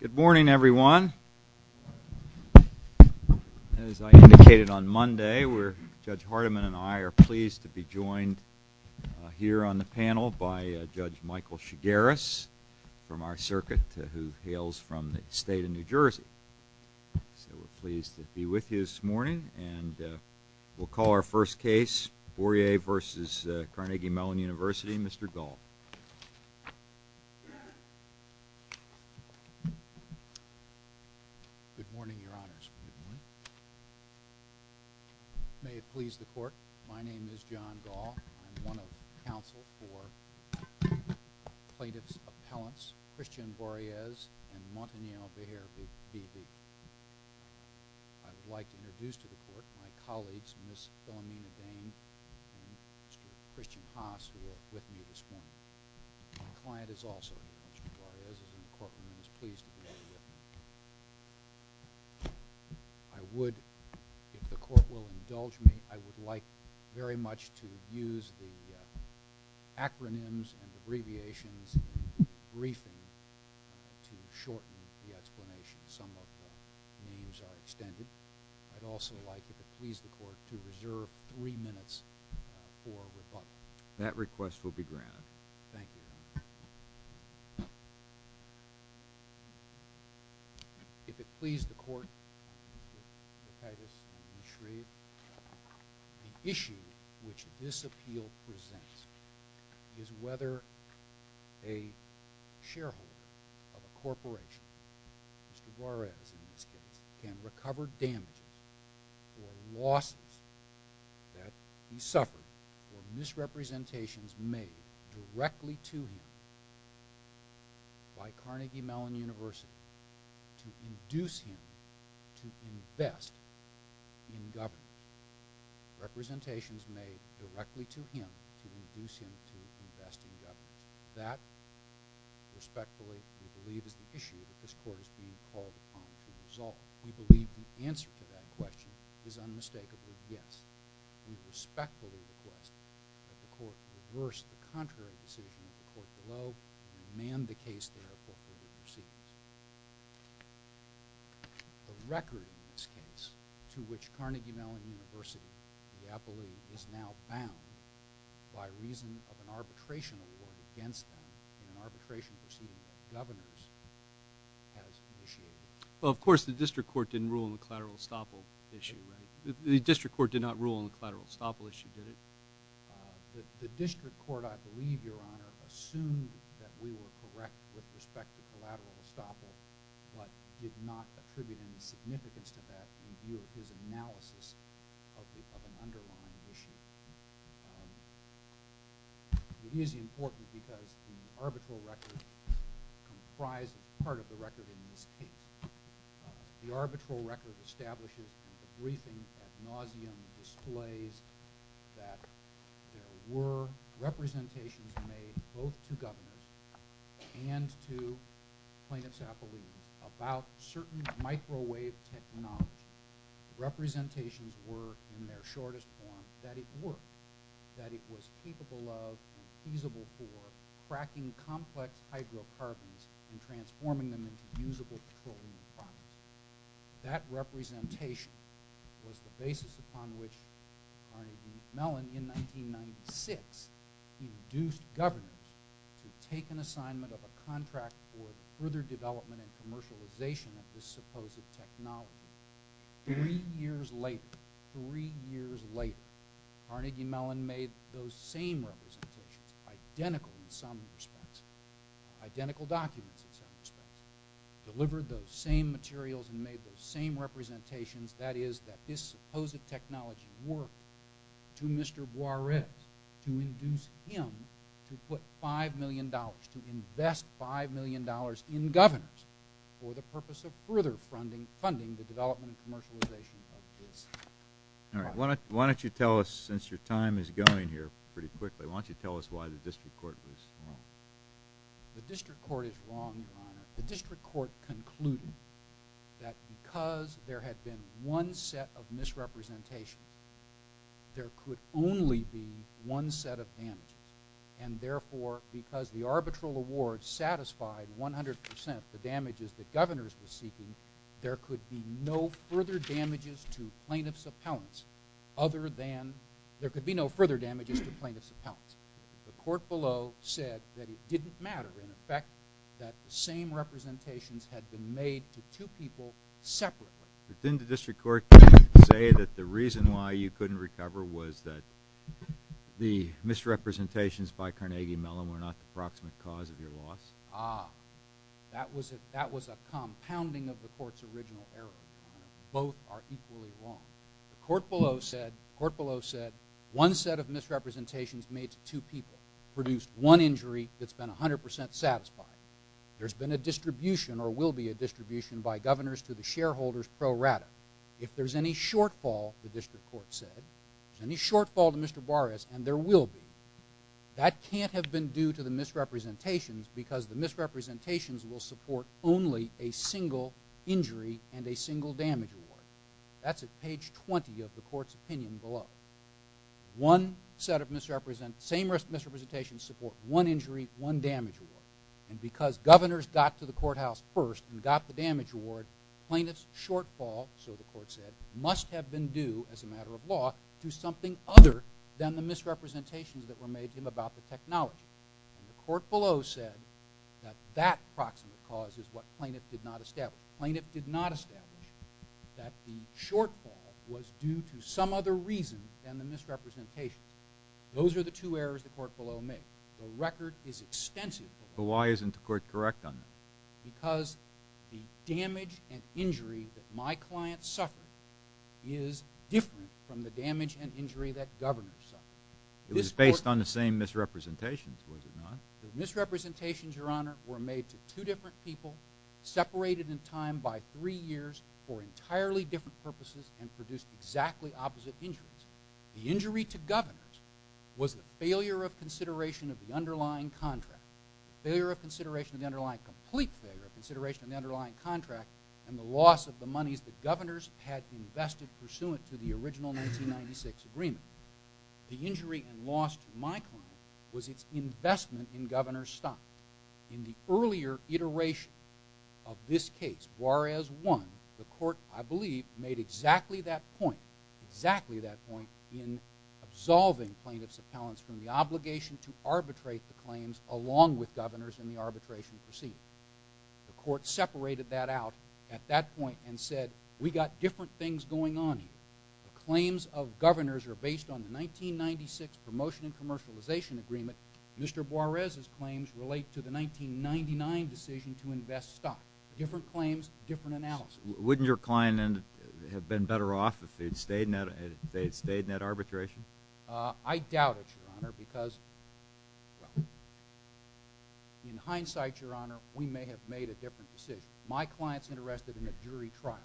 Good morning, everyone. As I indicated on Monday, Judge Hardiman and I are pleased to be joined here on the panel by Judge Michael Shigaris from our circuit who hails from the state of New Jersey. So we're pleased to be with you this morning, and we'll call our Good morning, Your Honors. May it please the Court, my name is John Gaul. I'm one of the counsel for plaintiff's appellants, Christian Barriez and Montaniel Behar, V.D. I would like to introduce to the Court my colleagues, Ms. Philomena Dane and Mr. Christian Haas, who are with me this morning. My client is also Mr. Barriez, and the Courtroom is pleased to be here with me. I would, if the Court will indulge me, I would like very much to use the acronyms and abbreviations in the briefing to shorten the explanation. Some of the names are extended. I'd also like, if it please the Court, to reserve three minutes for rebuttal. That request will be granted. Thank you, Your Honor. If it please the Court, Mr. Titus and Ms. Shreve, the issue which this appeal presents is whether a shareholder of a corporation, Mr. Barriez in this case, can recover damages or losses that he suffered or misrepresentations made directly to him by Carnegie Mellon University to induce him to invest in government. Representations made directly to him to induce him to invest in government. We believe that this is the issue that this Court is being called upon to resolve. We believe the answer to that question is unmistakably yes. We respectfully request that the Court reverse the contrary decision of the Court below and amend the case thereof for further proceedings. The record in this case, to which Carnegie Mellon University is now bound by reason of an arbitration award against them in an arbitration proceeding that the Governor's has initiated. Well, of course, the District Court didn't rule on the collateral estoppel issue, right? The District Court did not rule on the collateral estoppel issue, did it? The District Court, I believe, Your Honor, assumed that we were correct with respect to collateral estoppel but did not attribute any significance to that in view of his analysis of an underlying issue. It is important because the arbitral record comprised part of the record in this case. The arbitral record establishes in the briefing ad nauseum displays that there were representations made both to Governors and to plaintiffs' affiliates about certain microwave technology. Representations were in their shortest form that it worked, that it was capable of and feasible for cracking complex hydrocarbons and transforming them into usable petroleum products. That representation was the basis upon which Carnegie Mellon in 1996 induced Governors to take an assignment of a contract for further development and commercialization of this supposed technology. Three years later, three years later, Carnegie Mellon made those same representations, identical in some respects, identical documents in some respects, delivered those same materials and made those same representations, that is, that this supposed technology worked to Mr. to invest $5 million in Governors for the purpose of further funding the development and commercialization of this. All right. Why don't you tell us, since your time is going here pretty quickly, why don't you tell us why the district court was wrong? The district court is wrong, Your Honor. The district court concluded that because there had been one set of misrepresentations, there could only be one set of damages. And therefore, because the arbitral award satisfied 100% the damages that Governors were seeking, there could be no further damages to plaintiffs' appellants other than, there could be no further damages to plaintiffs' appellants. The court below said that it didn't matter, in effect, that the same representations had been made to two people separately. But didn't the district court say that the reason why you couldn't recover was that the misrepresentations by Carnegie Mellon were not the proximate cause of your loss? Ah, that was a compounding of the court's original error, Your Honor. Both are equally wrong. The court below said, the court below said, one set of misrepresentations made to two people produced one injury that's been 100% satisfied. There's been a distribution or will be a distribution by Governors to the shareholders pro rata. If there's any shortfall, the district court said, if there's any shortfall to Mr. Barras, and there will be, that can't have been due to the misrepresentations because the misrepresentations will support only a single injury and a single damage award. That's at page 20 of the court's opinion below. One set of misrepresentations, same misrepresentations support one injury, one damage award. And because Governors got to the courthouse first and got the damage award, plaintiff's shortfall, so the court said, must have been due, as a matter of law, to something other than the misrepresentations that were made to him about the technology. And the court below said that that proximate cause is what plaintiff did not establish. That the shortfall was due to some other reason than the misrepresentations. Those are the two errors the court below made. The record is extensive. But why isn't the court correct on that? Because the damage and injury that my client suffered is different from the damage and injury that Governors suffered. It was based on the same misrepresentations, was it not? The misrepresentations, Your Honor, were made to two different people, separated in time by three years for entirely different purposes and produced exactly opposite injuries. The injury to Governors was the failure of consideration of the underlying contract. The failure of consideration of the underlying, complete failure of consideration of the underlying contract and the loss of the monies that Governors had invested pursuant to the original 1996 agreement. The injury and loss to my client was its investment in Governors' stock. In the earlier iteration of this case, Juarez won. The court, I believe, made exactly that point, exactly that point in absolving plaintiff's appellants from the obligation to arbitrate the claims along with Governors in the arbitration proceeding. The court separated that out at that point and said, we got different things going on here. The claims of Governors are based on the 1996 promotion and commercialization agreement. Mr. Juarez's claims relate to the 1999 decision to invest stock. Different claims, different analysis. Wouldn't your client have been better off if they'd stayed in that arbitration? I doubt it, Your Honor, because, well, in hindsight, Your Honor, we may have made a different decision. My client's interested in a jury trial.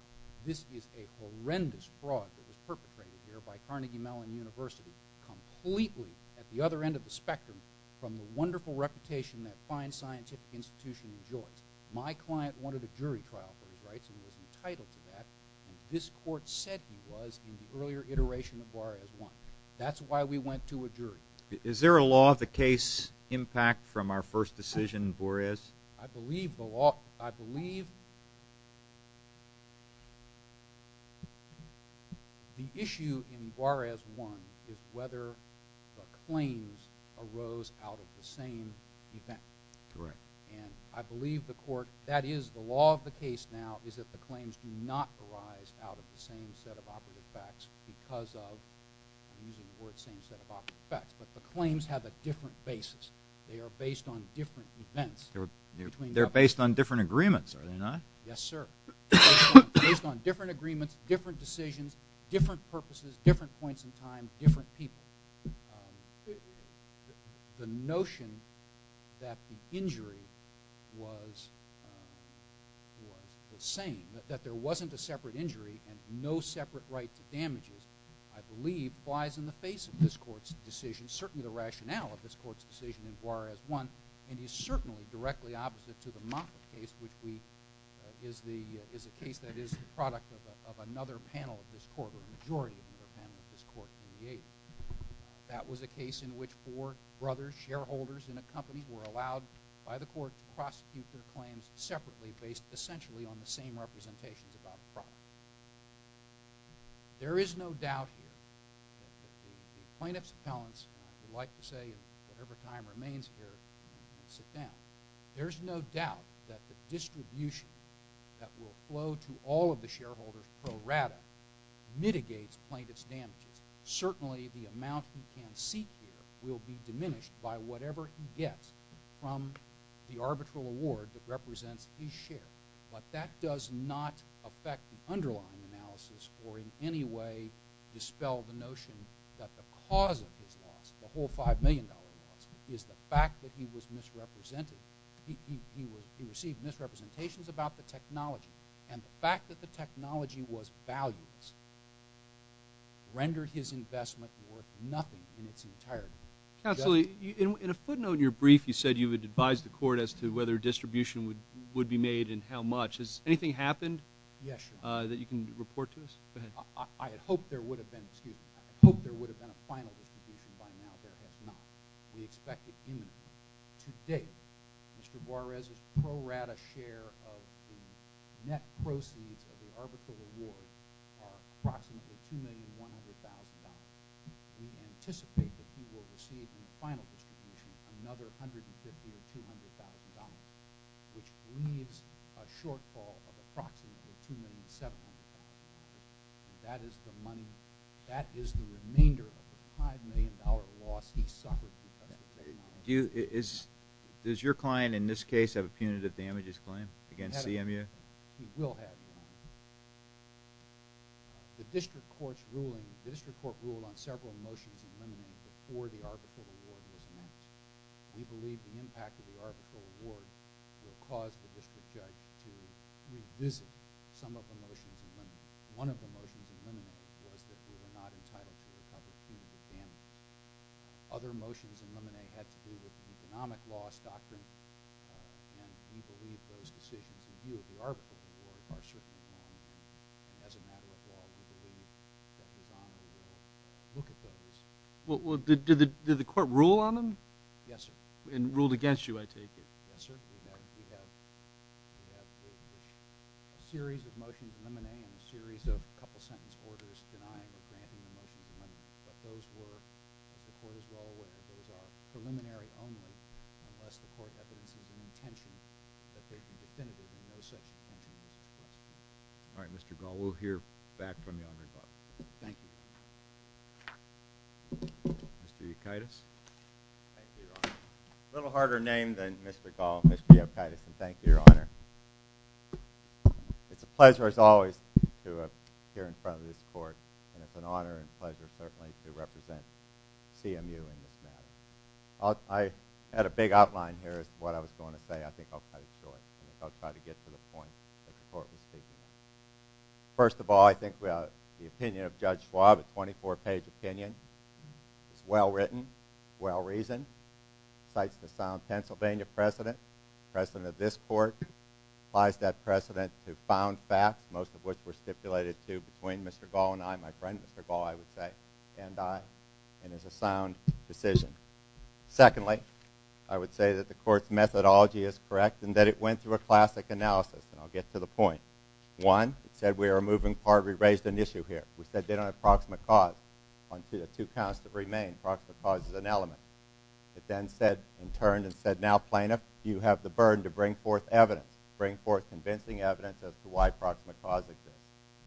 This is a horrendous fraud that was perpetrated here by Carnegie Mellon University completely at the other end of the spectrum from the wonderful reputation that fine scientific institution enjoys. My client wanted a jury trial for his rights, and he was entitled to that. And this court said he was in the earlier iteration of Juarez won. That's why we went to a jury. Is there a law of the case impact from our first decision, Juarez? I believe the law, I believe the issue in Juarez won is whether the claims arose out of the same event. Correct. And I believe the court, that is the law of the case now is that the claims do not arise out of the same set of operative facts because of, I'm using the word same set of operative facts, but the claims have a different basis. They are based on different events. They are based on different agreements, are they not? Yes, sir. Based on different agreements, different decisions, different purposes, different points in time, different people. The notion that the injury was the same, that there wasn't a separate injury and no separate right to damages, I believe, flies in the face of this court's decision, certainly the case that is the product of another panel of this court or a majority of another panel of this court in the age. That was a case in which four brothers, shareholders in a company, were allowed by the court to prosecute their claims separately based essentially on the same representations about the problem. There is no doubt here that the plaintiff's appellants would like to say whatever time remains here, sit down. There is no doubt that the distribution that will flow to all of the shareholders pro rata mitigates plaintiff's damages. Certainly the amount he can seek here will be diminished by whatever he gets from the arbitral award that represents his share. But that does not affect the underlying analysis or in any way dispel the notion that the cause of his loss, the whole $5 million loss, is the fact that he was misrepresented. He received misrepresentations about the technology. And the fact that the technology was valueless rendered his investment worth nothing in its entirety. Absolutely. In a footnote in your brief, you said you had advised the court as to whether distribution would be made and how much. Has anything happened that you can report to us? Go ahead. I hope there would have been a final distribution by now. There has not. We expect it imminently. To date, Mr. Juarez's pro rata share of the net proceeds of the arbitral award are approximately $2,100,000. We anticipate that he will receive in the final distribution another $150,000 or $200,000, which leaves a shortfall of approximately $2,700,000. And that is the money, that is the remainder of the $5 million loss he suffered. Does your client in this case have a punitive damages claim against CMU? He will have. The district court's ruling, the district court ruled on several motions and amendments before the arbitral award was made. We believe the impact of the arbitral award will cause the district judge to revisit some of the motions and amendments. One of the motions and amendments was that we were not entitled to recover CMU's damages. Other motions and amendments had to do with the economic loss doctrine, and we believe those decisions in view of the arbitral award are certainly known. And as a matter of law, we believe that the bond will look at those. Well, did the court rule on them? Yes, sir. And ruled against you, I take it? Yes, sir. We have a series of motions and amendments, a series of a couple of sentence orders denying or granting the motions and amendments. But those were, the court is well aware, those are preliminary only, unless the court evidences an intention that they be definitive, and no such intention is requested. All right, Mr. Gall, we'll hear back from you on that. Thank you. Mr. Yukaitis. Thank you, Your Honor. A little harder name than Mr. Gall, Mr. Yukaitis, and thank you, Your Honor. It's a pleasure, as always, to appear in front of this court, and it's an honor and pleasure certainly to represent CMU in this matter. I had a big outline here as to what I was going to say. I think I'll cut it short. I'll try to get to the point that the court was speaking. First of all, I think the opinion of Judge Schwab, a 24-page opinion, is well written, well reasoned, cites the sound Pennsylvania precedent, precedent of this court, applies that precedent to found facts, most of which were stipulated to between Mr. Gall and I, my friend Mr. Gall, I would say, and I, and is a sound decision. Secondly, I would say that the court's methodology is correct and that it went through a classic analysis, and I'll get to the point. One, it said we are a moving part. We raised an issue here. We said they don't have proximate cause on the two counts that remain. Proximate cause is an element. It then said, in turn, it said, now, plaintiff, you have the burden to bring forth evidence, bring forth convincing evidence as to why proximate cause exists.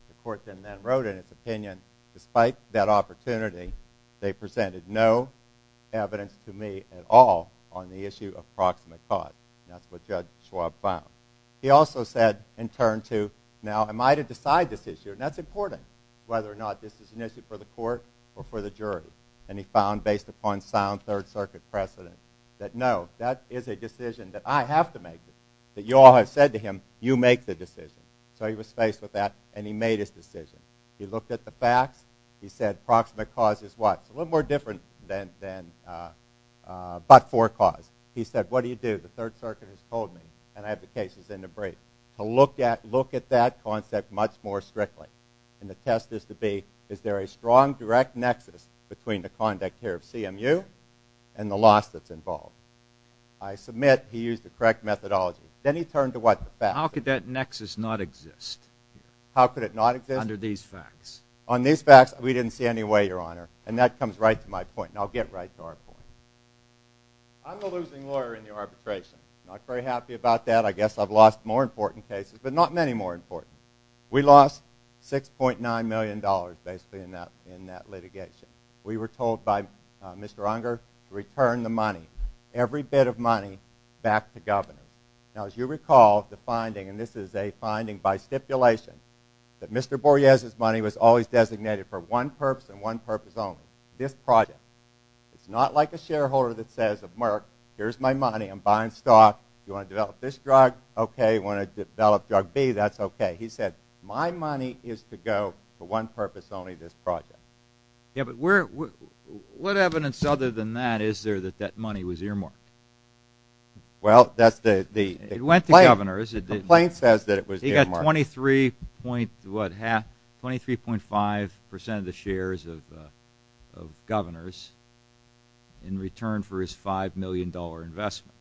The court then wrote in its opinion, despite that opportunity, they presented no evidence to me at all on the issue of proximate cause. That's what Judge Schwab found. He also said, in turn, too, now, am I to decide this issue, and that's important, whether or not this is an issue for the court or for the jury. And he found, based upon sound Third Circuit precedent, that no, that is a decision that I have to make, that you all have said to him, you make the decision. So he was faced with that, and he made his decision. He looked at the facts. He said proximate cause is what? It's a little more different than but for cause. He said, what do you do? The Third Circuit has told me, and I have the cases in the brief, to look at that concept much more strictly. And the test is to be, is there a strong, direct nexus between the conduct here of CMU and the loss that's involved? I submit he used the correct methodology. Then he turned to what? The facts. How could that nexus not exist? How could it not exist? Under these facts. On these facts, we didn't see any way, Your Honor. And that comes right to my point, and I'll get right to our point. I'm the losing lawyer in the arbitration. Not very happy about that. I guess I've lost more important cases, but not many more important. We lost $6.9 million, basically, in that litigation. We were told by Mr. Unger to return the money, every bit of money, back to Governor. Now, as you recall, the finding, and this is a finding by stipulation, that Mr. Borges' money was always designated for one purpose and one purpose only. This project. It's not like a shareholder that says, Merck, here's my money. I'm buying stock. You want to develop this drug? Okay. You want to develop drug B? That's okay. He said, my money is to go for one purpose only, this project. Yeah, but what evidence other than that is there that that money was earmarked? Well, that's the complaint. It went to Governor. The complaint says that it was earmarked. 23.5% of the shares of Governor's in return for his $5 million investment.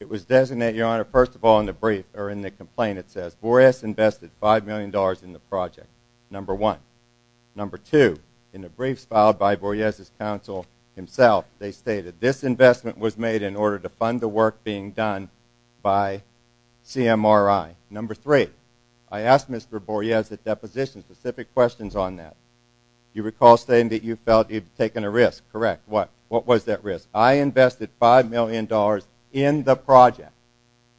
It was designated, Your Honor, first of all in the brief, or in the complaint, it says, Borges invested $5 million in the project, number one. Number two, in the briefs filed by Borges' counsel himself, they stated, this investment was made in order to fund the work being done by CMRI. Number three, I asked Mr. Borges at deposition specific questions on that. You recall saying that you felt he'd taken a risk. Correct. What? What was that risk? I invested $5 million in the project,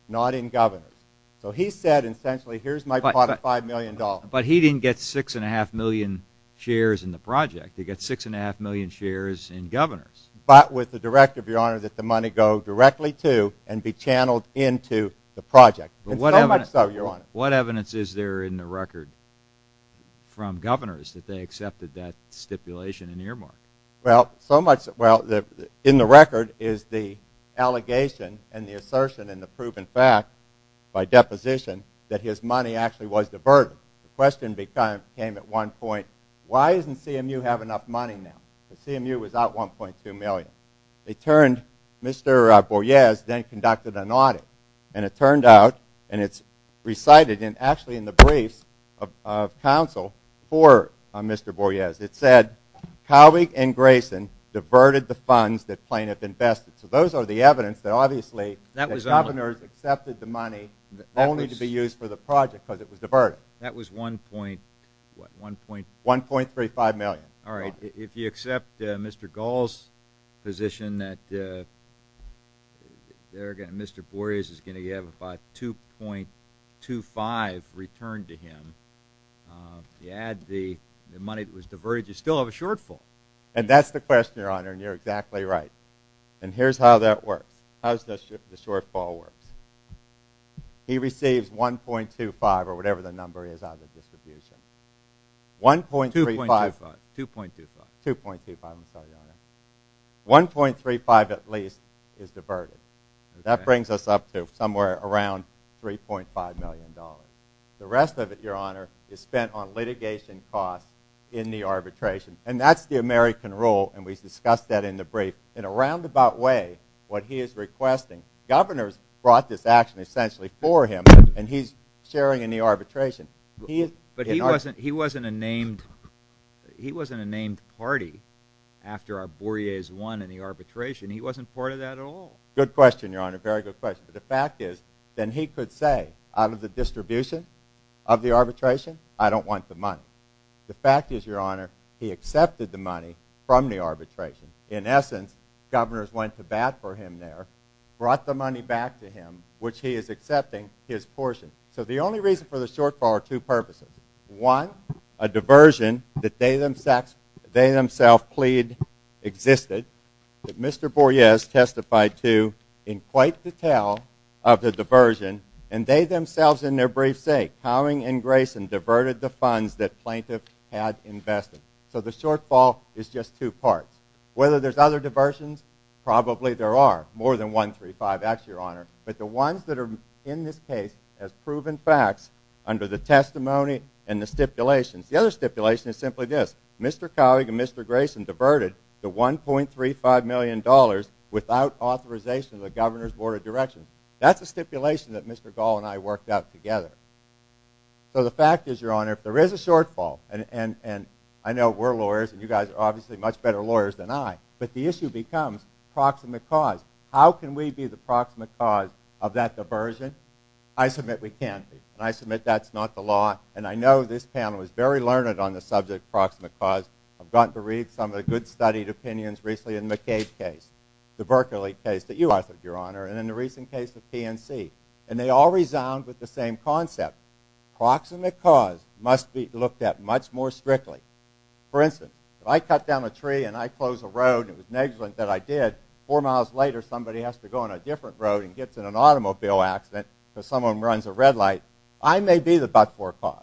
not in Governor's. So he said, essentially, here's my pot of $5 million. But he didn't get 6.5 million shares in the project. He got 6.5 million shares in Governor's. But with the directive, Your Honor, that the money go directly to and be channeled into the project. So much so, Your Honor. What evidence is there in the record from Governor's that they accepted that stipulation in earmark? Well, in the record is the allegation and the assertion and the proven fact by deposition that his money actually was diverted. The question came at one point, why doesn't CMU have enough money now? CMU was out $1.2 million. They turned, Mr. Borges then conducted an audit. And it turned out, and it's recited actually in the briefs of counsel for Mr. Borges. It said, Cowick and Grayson diverted the funds that plaintiff invested. So those are the evidence that obviously the Governor's accepted the money only to be used for the project because it was diverted. That was $1.3 million. All right. If you accept Mr. Gall's position that Mr. Borges is going to have about $2.25 returned to him, you add the money that was diverted, you still have a shortfall. And that's the question, Your Honor, and you're exactly right. And here's how that works. How does the shortfall work? He receives $1.25 or whatever the number is out of the distribution. $1.35. $2.25. $2.25, I'm sorry, Your Honor. $1.35 at least is diverted. That brings us up to somewhere around $3.5 million. The rest of it, Your Honor, is spent on litigation costs in the arbitration. And that's the American rule, and we discussed that in the brief. In a roundabout way, what he is requesting, Governor's brought this action essentially for him, and he's sharing in the arbitration. But he wasn't a named party after our Borges won in the arbitration. He wasn't part of that at all. Good question, Your Honor. Very good question. But the fact is, then he could say, out of the distribution of the arbitration, I don't want the money. The fact is, Your Honor, he accepted the money from the arbitration. In essence, Governor's went to bat for him there, brought the money back to him, which he is accepting his portion. So the only reason for the shortfall are two purposes. One, a diversion that they themselves plead existed, that Mr. Borges testified to in quite detail of the diversion, and they themselves in their brief say, Howing and Grayson diverted the funds that plaintiff had invested. So the shortfall is just two parts. Whether there's other diversions, probably there are. More than $1.35, actually, Your Honor. But the ones that are in this case have proven facts under the testimony and the stipulations. The other stipulation is simply this. Mr. Howing and Mr. Grayson diverted the $1.35 million without authorization of the Governor's Board of Directions. That's a stipulation that Mr. Gall and I worked out together. So the fact is, Your Honor, if there is a shortfall, and I know we're lawyers and you guys are obviously much better lawyers than I, but the issue becomes proximate cause. How can we be the proximate cause of that diversion? I submit we can't be, and I submit that's not the law. And I know this panel is very learned on the subject of proximate cause. I've gotten to read some of the good-studied opinions recently in the McCabe case, the Berkeley case that you authored, Your Honor, and in the recent case of PNC. And they all resound with the same concept. Proximate cause must be looked at much more strictly. For instance, if I cut down a tree and I close a road, and it was negligent that I did, four miles later somebody has to go on a different road and gets in an automobile accident because someone runs a red light, I may be the but-for cause.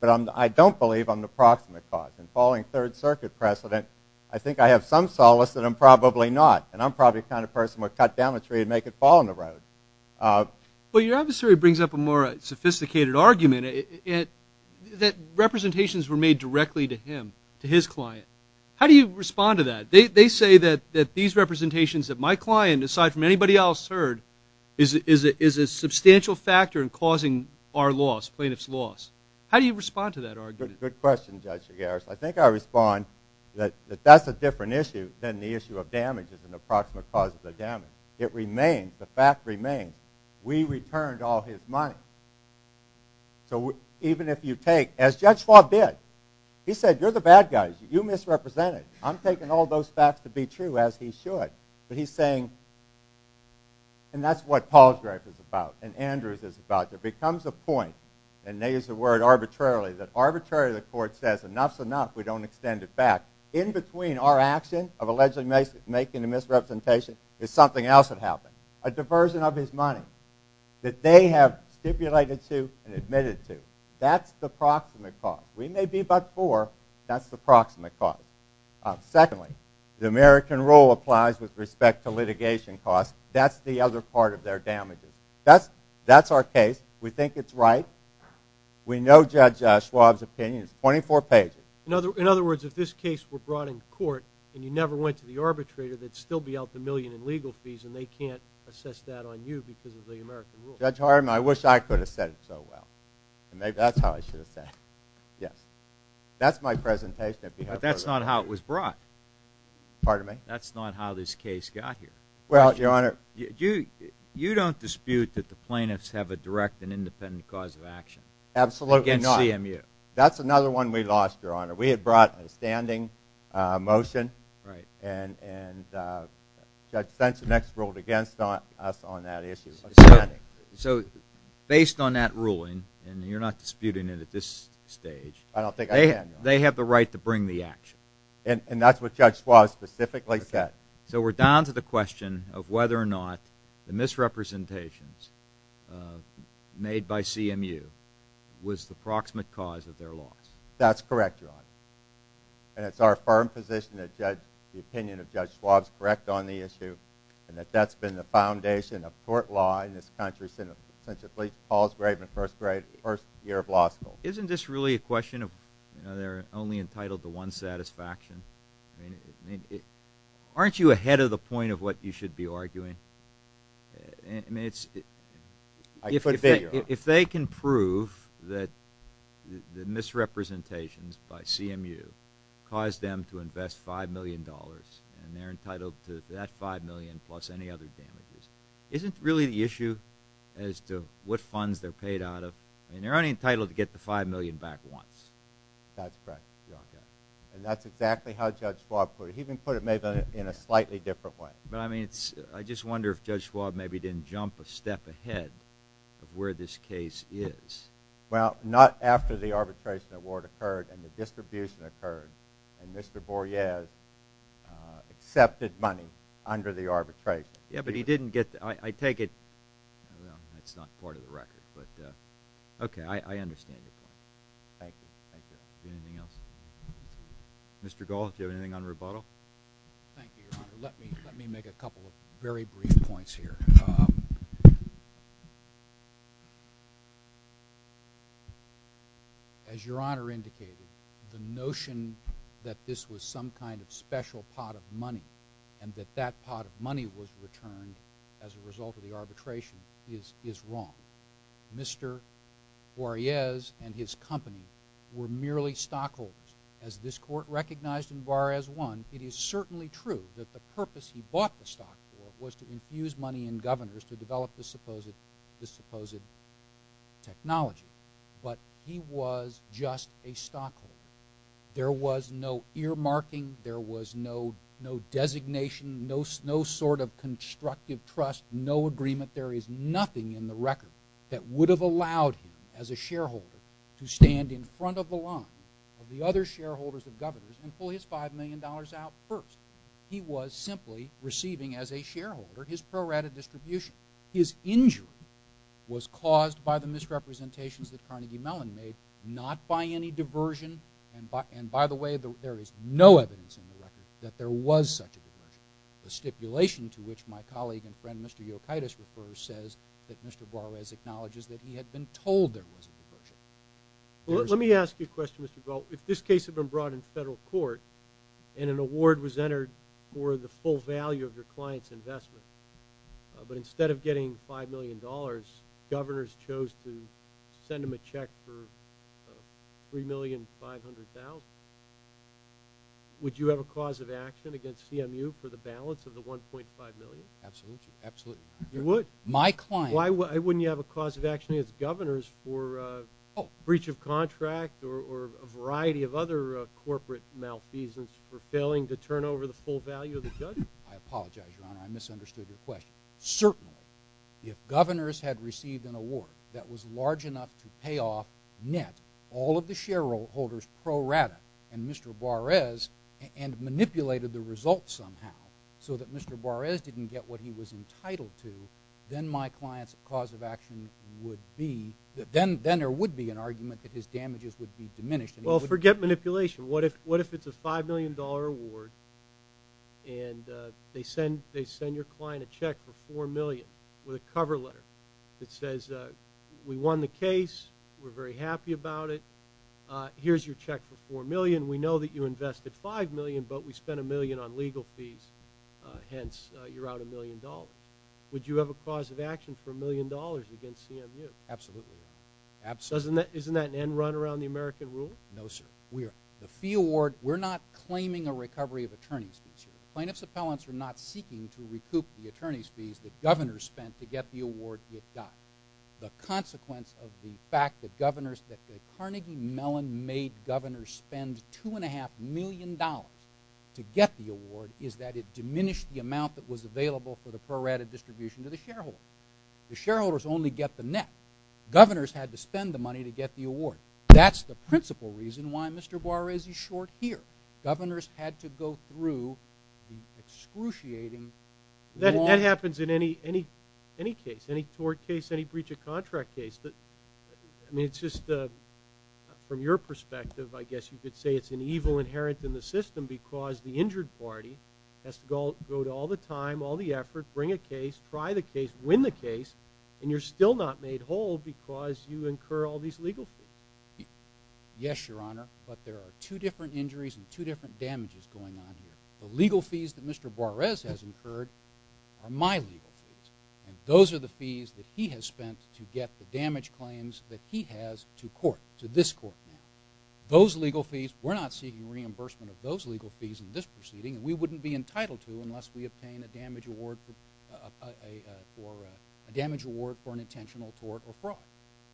But I don't believe I'm the proximate cause. And following Third Circuit precedent, I think I have some solace that I'm probably not, and I'm probably the kind of person who would cut down a tree and make it fall on the road. Well, your observatory brings up a more sophisticated argument that representations were made directly to him, to his client. How do you respond to that? They say that these representations that my client, aside from anybody else heard, is a substantial factor in causing our loss, plaintiff's loss. How do you respond to that argument? Good question, Judge Figueres. I think I respond that that's a different issue than the issue of damage as an approximate cause of the damage. It remains, the fact remains, we returned all his money. So even if you take, as Judge Schwab did, he said, you're the bad guys, you misrepresented. I'm taking all those facts to be true, as he should. But he's saying, and that's what Paul's gripe is about and Andrew's is about, there becomes a point, and they use the word arbitrarily, that arbitrarily the court says, enough's enough, we don't extend it back. In between our action of allegedly making a misrepresentation, there's something else that happened. A diversion of his money that they have stipulated to and admitted to. That's the proximate cause. We may be but for, that's the proximate cause. Secondly, the American rule applies with respect to litigation costs. That's the other part of their damages. That's our case. We think it's right. We know Judge Schwab's opinion. It's 24 pages. In other words, if this case were brought in court and you never went to the arbitrator, they'd still be out the million in legal fees and they can't assess that on you because of the American rule. Judge Hardeman, I wish I could have said it so well. Maybe that's how I should have said it. Yes. That's my presentation. But that's not how it was brought. Pardon me? That's not how this case got here. Well, Your Honor. You don't dispute that the plaintiffs have a direct and independent cause of action. Absolutely not. Against CMU. That's another one we lost, Your Honor. We had brought a standing motion. Right. And Judge Sensenex ruled against us on that issue. So based on that ruling, and you're not disputing it at this stage, they have the right to bring the action. And that's what Judge Schwab specifically said. So we're down to the question of whether or not the misrepresentations made by CMU was the proximate cause of their loss. That's correct, Your Honor. And it's our firm position that the opinion of Judge Schwab is correct on the issue and that that's been the foundation of court law in this country since Paul's first year of law school. Isn't this really a question of they're only entitled to one satisfaction? Aren't you ahead of the point of what you should be arguing? I could be, Your Honor. If they can prove that the misrepresentations by CMU caused them to invest $5 million and they're entitled to that $5 million plus any other damages, isn't really the issue as to what funds they're paid out of? And they're only entitled to get the $5 million back once. That's correct, Your Honor. And that's exactly how Judge Schwab put it. He even put it maybe in a slightly different way. But I mean, I just wonder if Judge Schwab maybe didn't jump a step ahead of where this case is. Well, not after the arbitration award occurred and the distribution occurred and Mr. Borges accepted money under the arbitration. Yeah, but he didn't get the – I take it – well, that's not part of the record, but okay, I understand your point. Thank you. Thank you. Anything else? Mr. Gold, do you have anything on rubato? Thank you, Your Honor. Let me make a couple of very brief points here. As Your Honor indicated, the notion that this was some kind of special pot of money and that that pot of money was returned as a result of the arbitration is wrong. Mr. Borges and his company were merely stockholders. As this Court recognized in Juarez 1, it is certainly true that the purpose he bought the stock for was to infuse money in governors to develop this supposed technology, but he was just a stockholder. There was no earmarking. There was no designation, no sort of constructive trust, no agreement. There is nothing in the record that would have allowed him as a shareholder to stand in front of the line of the other shareholders of governors and pull his $5 million out first. He was simply receiving as a shareholder his pro rata distribution. His injury was caused by the misrepresentations that Carnegie Mellon made, not by any diversion. And by the way, there is no evidence in the record that there was such a diversion. The stipulation to which my colleague and friend Mr. Yokaitis refers says that Mr. Borges acknowledges that he had been told there was a diversion. Let me ask you a question, Mr. Gold. If this case had been brought in federal court and an award was entered for the full value of your client's investment, but instead of getting $5 million, governors chose to send him a check for $3,500,000, would you have a cause of action against CMU for the balance of the $1.5 million? Absolutely. You would? My client. Why wouldn't you have a cause of action against governors for breach of contract or a variety of other corporate malfeasance for failing to turn over the full value of the judgment? I apologize, Your Honor. I misunderstood your question. Certainly, if governors had received an award that was large enough to pay off net all of the shareholders pro rata and Mr. Borges and manipulated the results somehow so that Mr. Borges didn't get what he was entitled to, then my client's cause of action would be, then there would be an argument that his damages would be diminished. Well, forget manipulation. What if it's a $5 million award and they send your client a check for $4 million with a cover letter that says, We won the case. We're very happy about it. Here's your check for $4 million. We know that you invested $5 million, but we spent $1 million on legal fees. Hence, you're out $1 million. Would you have a cause of action for $1 million against CMU? Absolutely, Your Honor. Isn't that an end run around the American rule? No, sir. The fee award, we're not claiming a recovery of attorney's fees here. Plaintiff's appellants are not seeking to recoup the attorney's fees that governors spent to get the award it got. The consequence of the fact that the Carnegie Mellon made governors spend $2.5 million to get the award is that it diminished the amount that was available for the prorated distribution to the shareholders. The shareholders only get the net. Governors had to spend the money to get the award. That's the principal reason why Mr. Buarez is short here. Governors had to go through the excruciating law. That happens in any case, any tort case, any breach of contract case. I mean, it's just from your perspective, I guess you could say it's an evil inherent in the system because the injured party has to go to all the time, all the effort, bring a case, try the case, win the case, and you're still not made whole because you incur all these legal fees. Yes, Your Honor, but there are two different injuries and two different damages going on here. The legal fees that Mr. Buarez has incurred are my legal fees, and those are the fees that he has spent to get the damage claims that he has to court, to this court now. Those legal fees, we're not seeking reimbursement of those legal fees in this proceeding, and we wouldn't be entitled to unless we obtain a damage award for an intentional tort or fraud.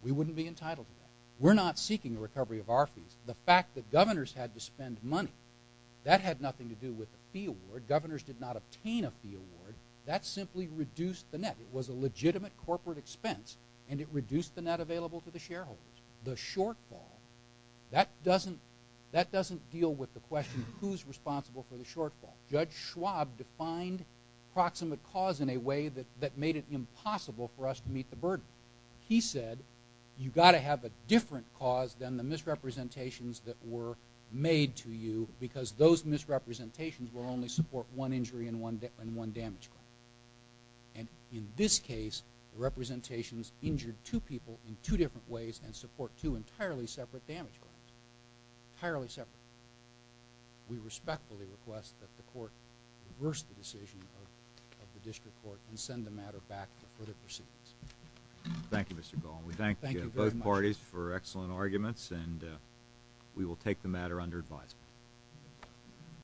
We wouldn't be entitled to that. We're not seeking a recovery of our fees. The fact that governors had to spend money, that had nothing to do with the fee award. Governors did not obtain a fee award. That simply reduced the net. It was a legitimate corporate expense, and it reduced the net available to the shareholders. The shortfall, that doesn't deal with the question of who's responsible for the shortfall. Judge Schwab defined proximate cause in a way that made it impossible for us to meet the burden. He said, you've got to have a different cause than the misrepresentations that were made to you because those misrepresentations will only support one injury and one damage claim. And in this case, the representations injured two people in two different ways and support two entirely separate damage claims. Entirely separate. We respectfully request that the court reverse the decision of the district court and send the matter back to the court of proceedings. Thank you, Mr. Goll. We thank both parties for excellent arguments, and we will take the matter under advisement.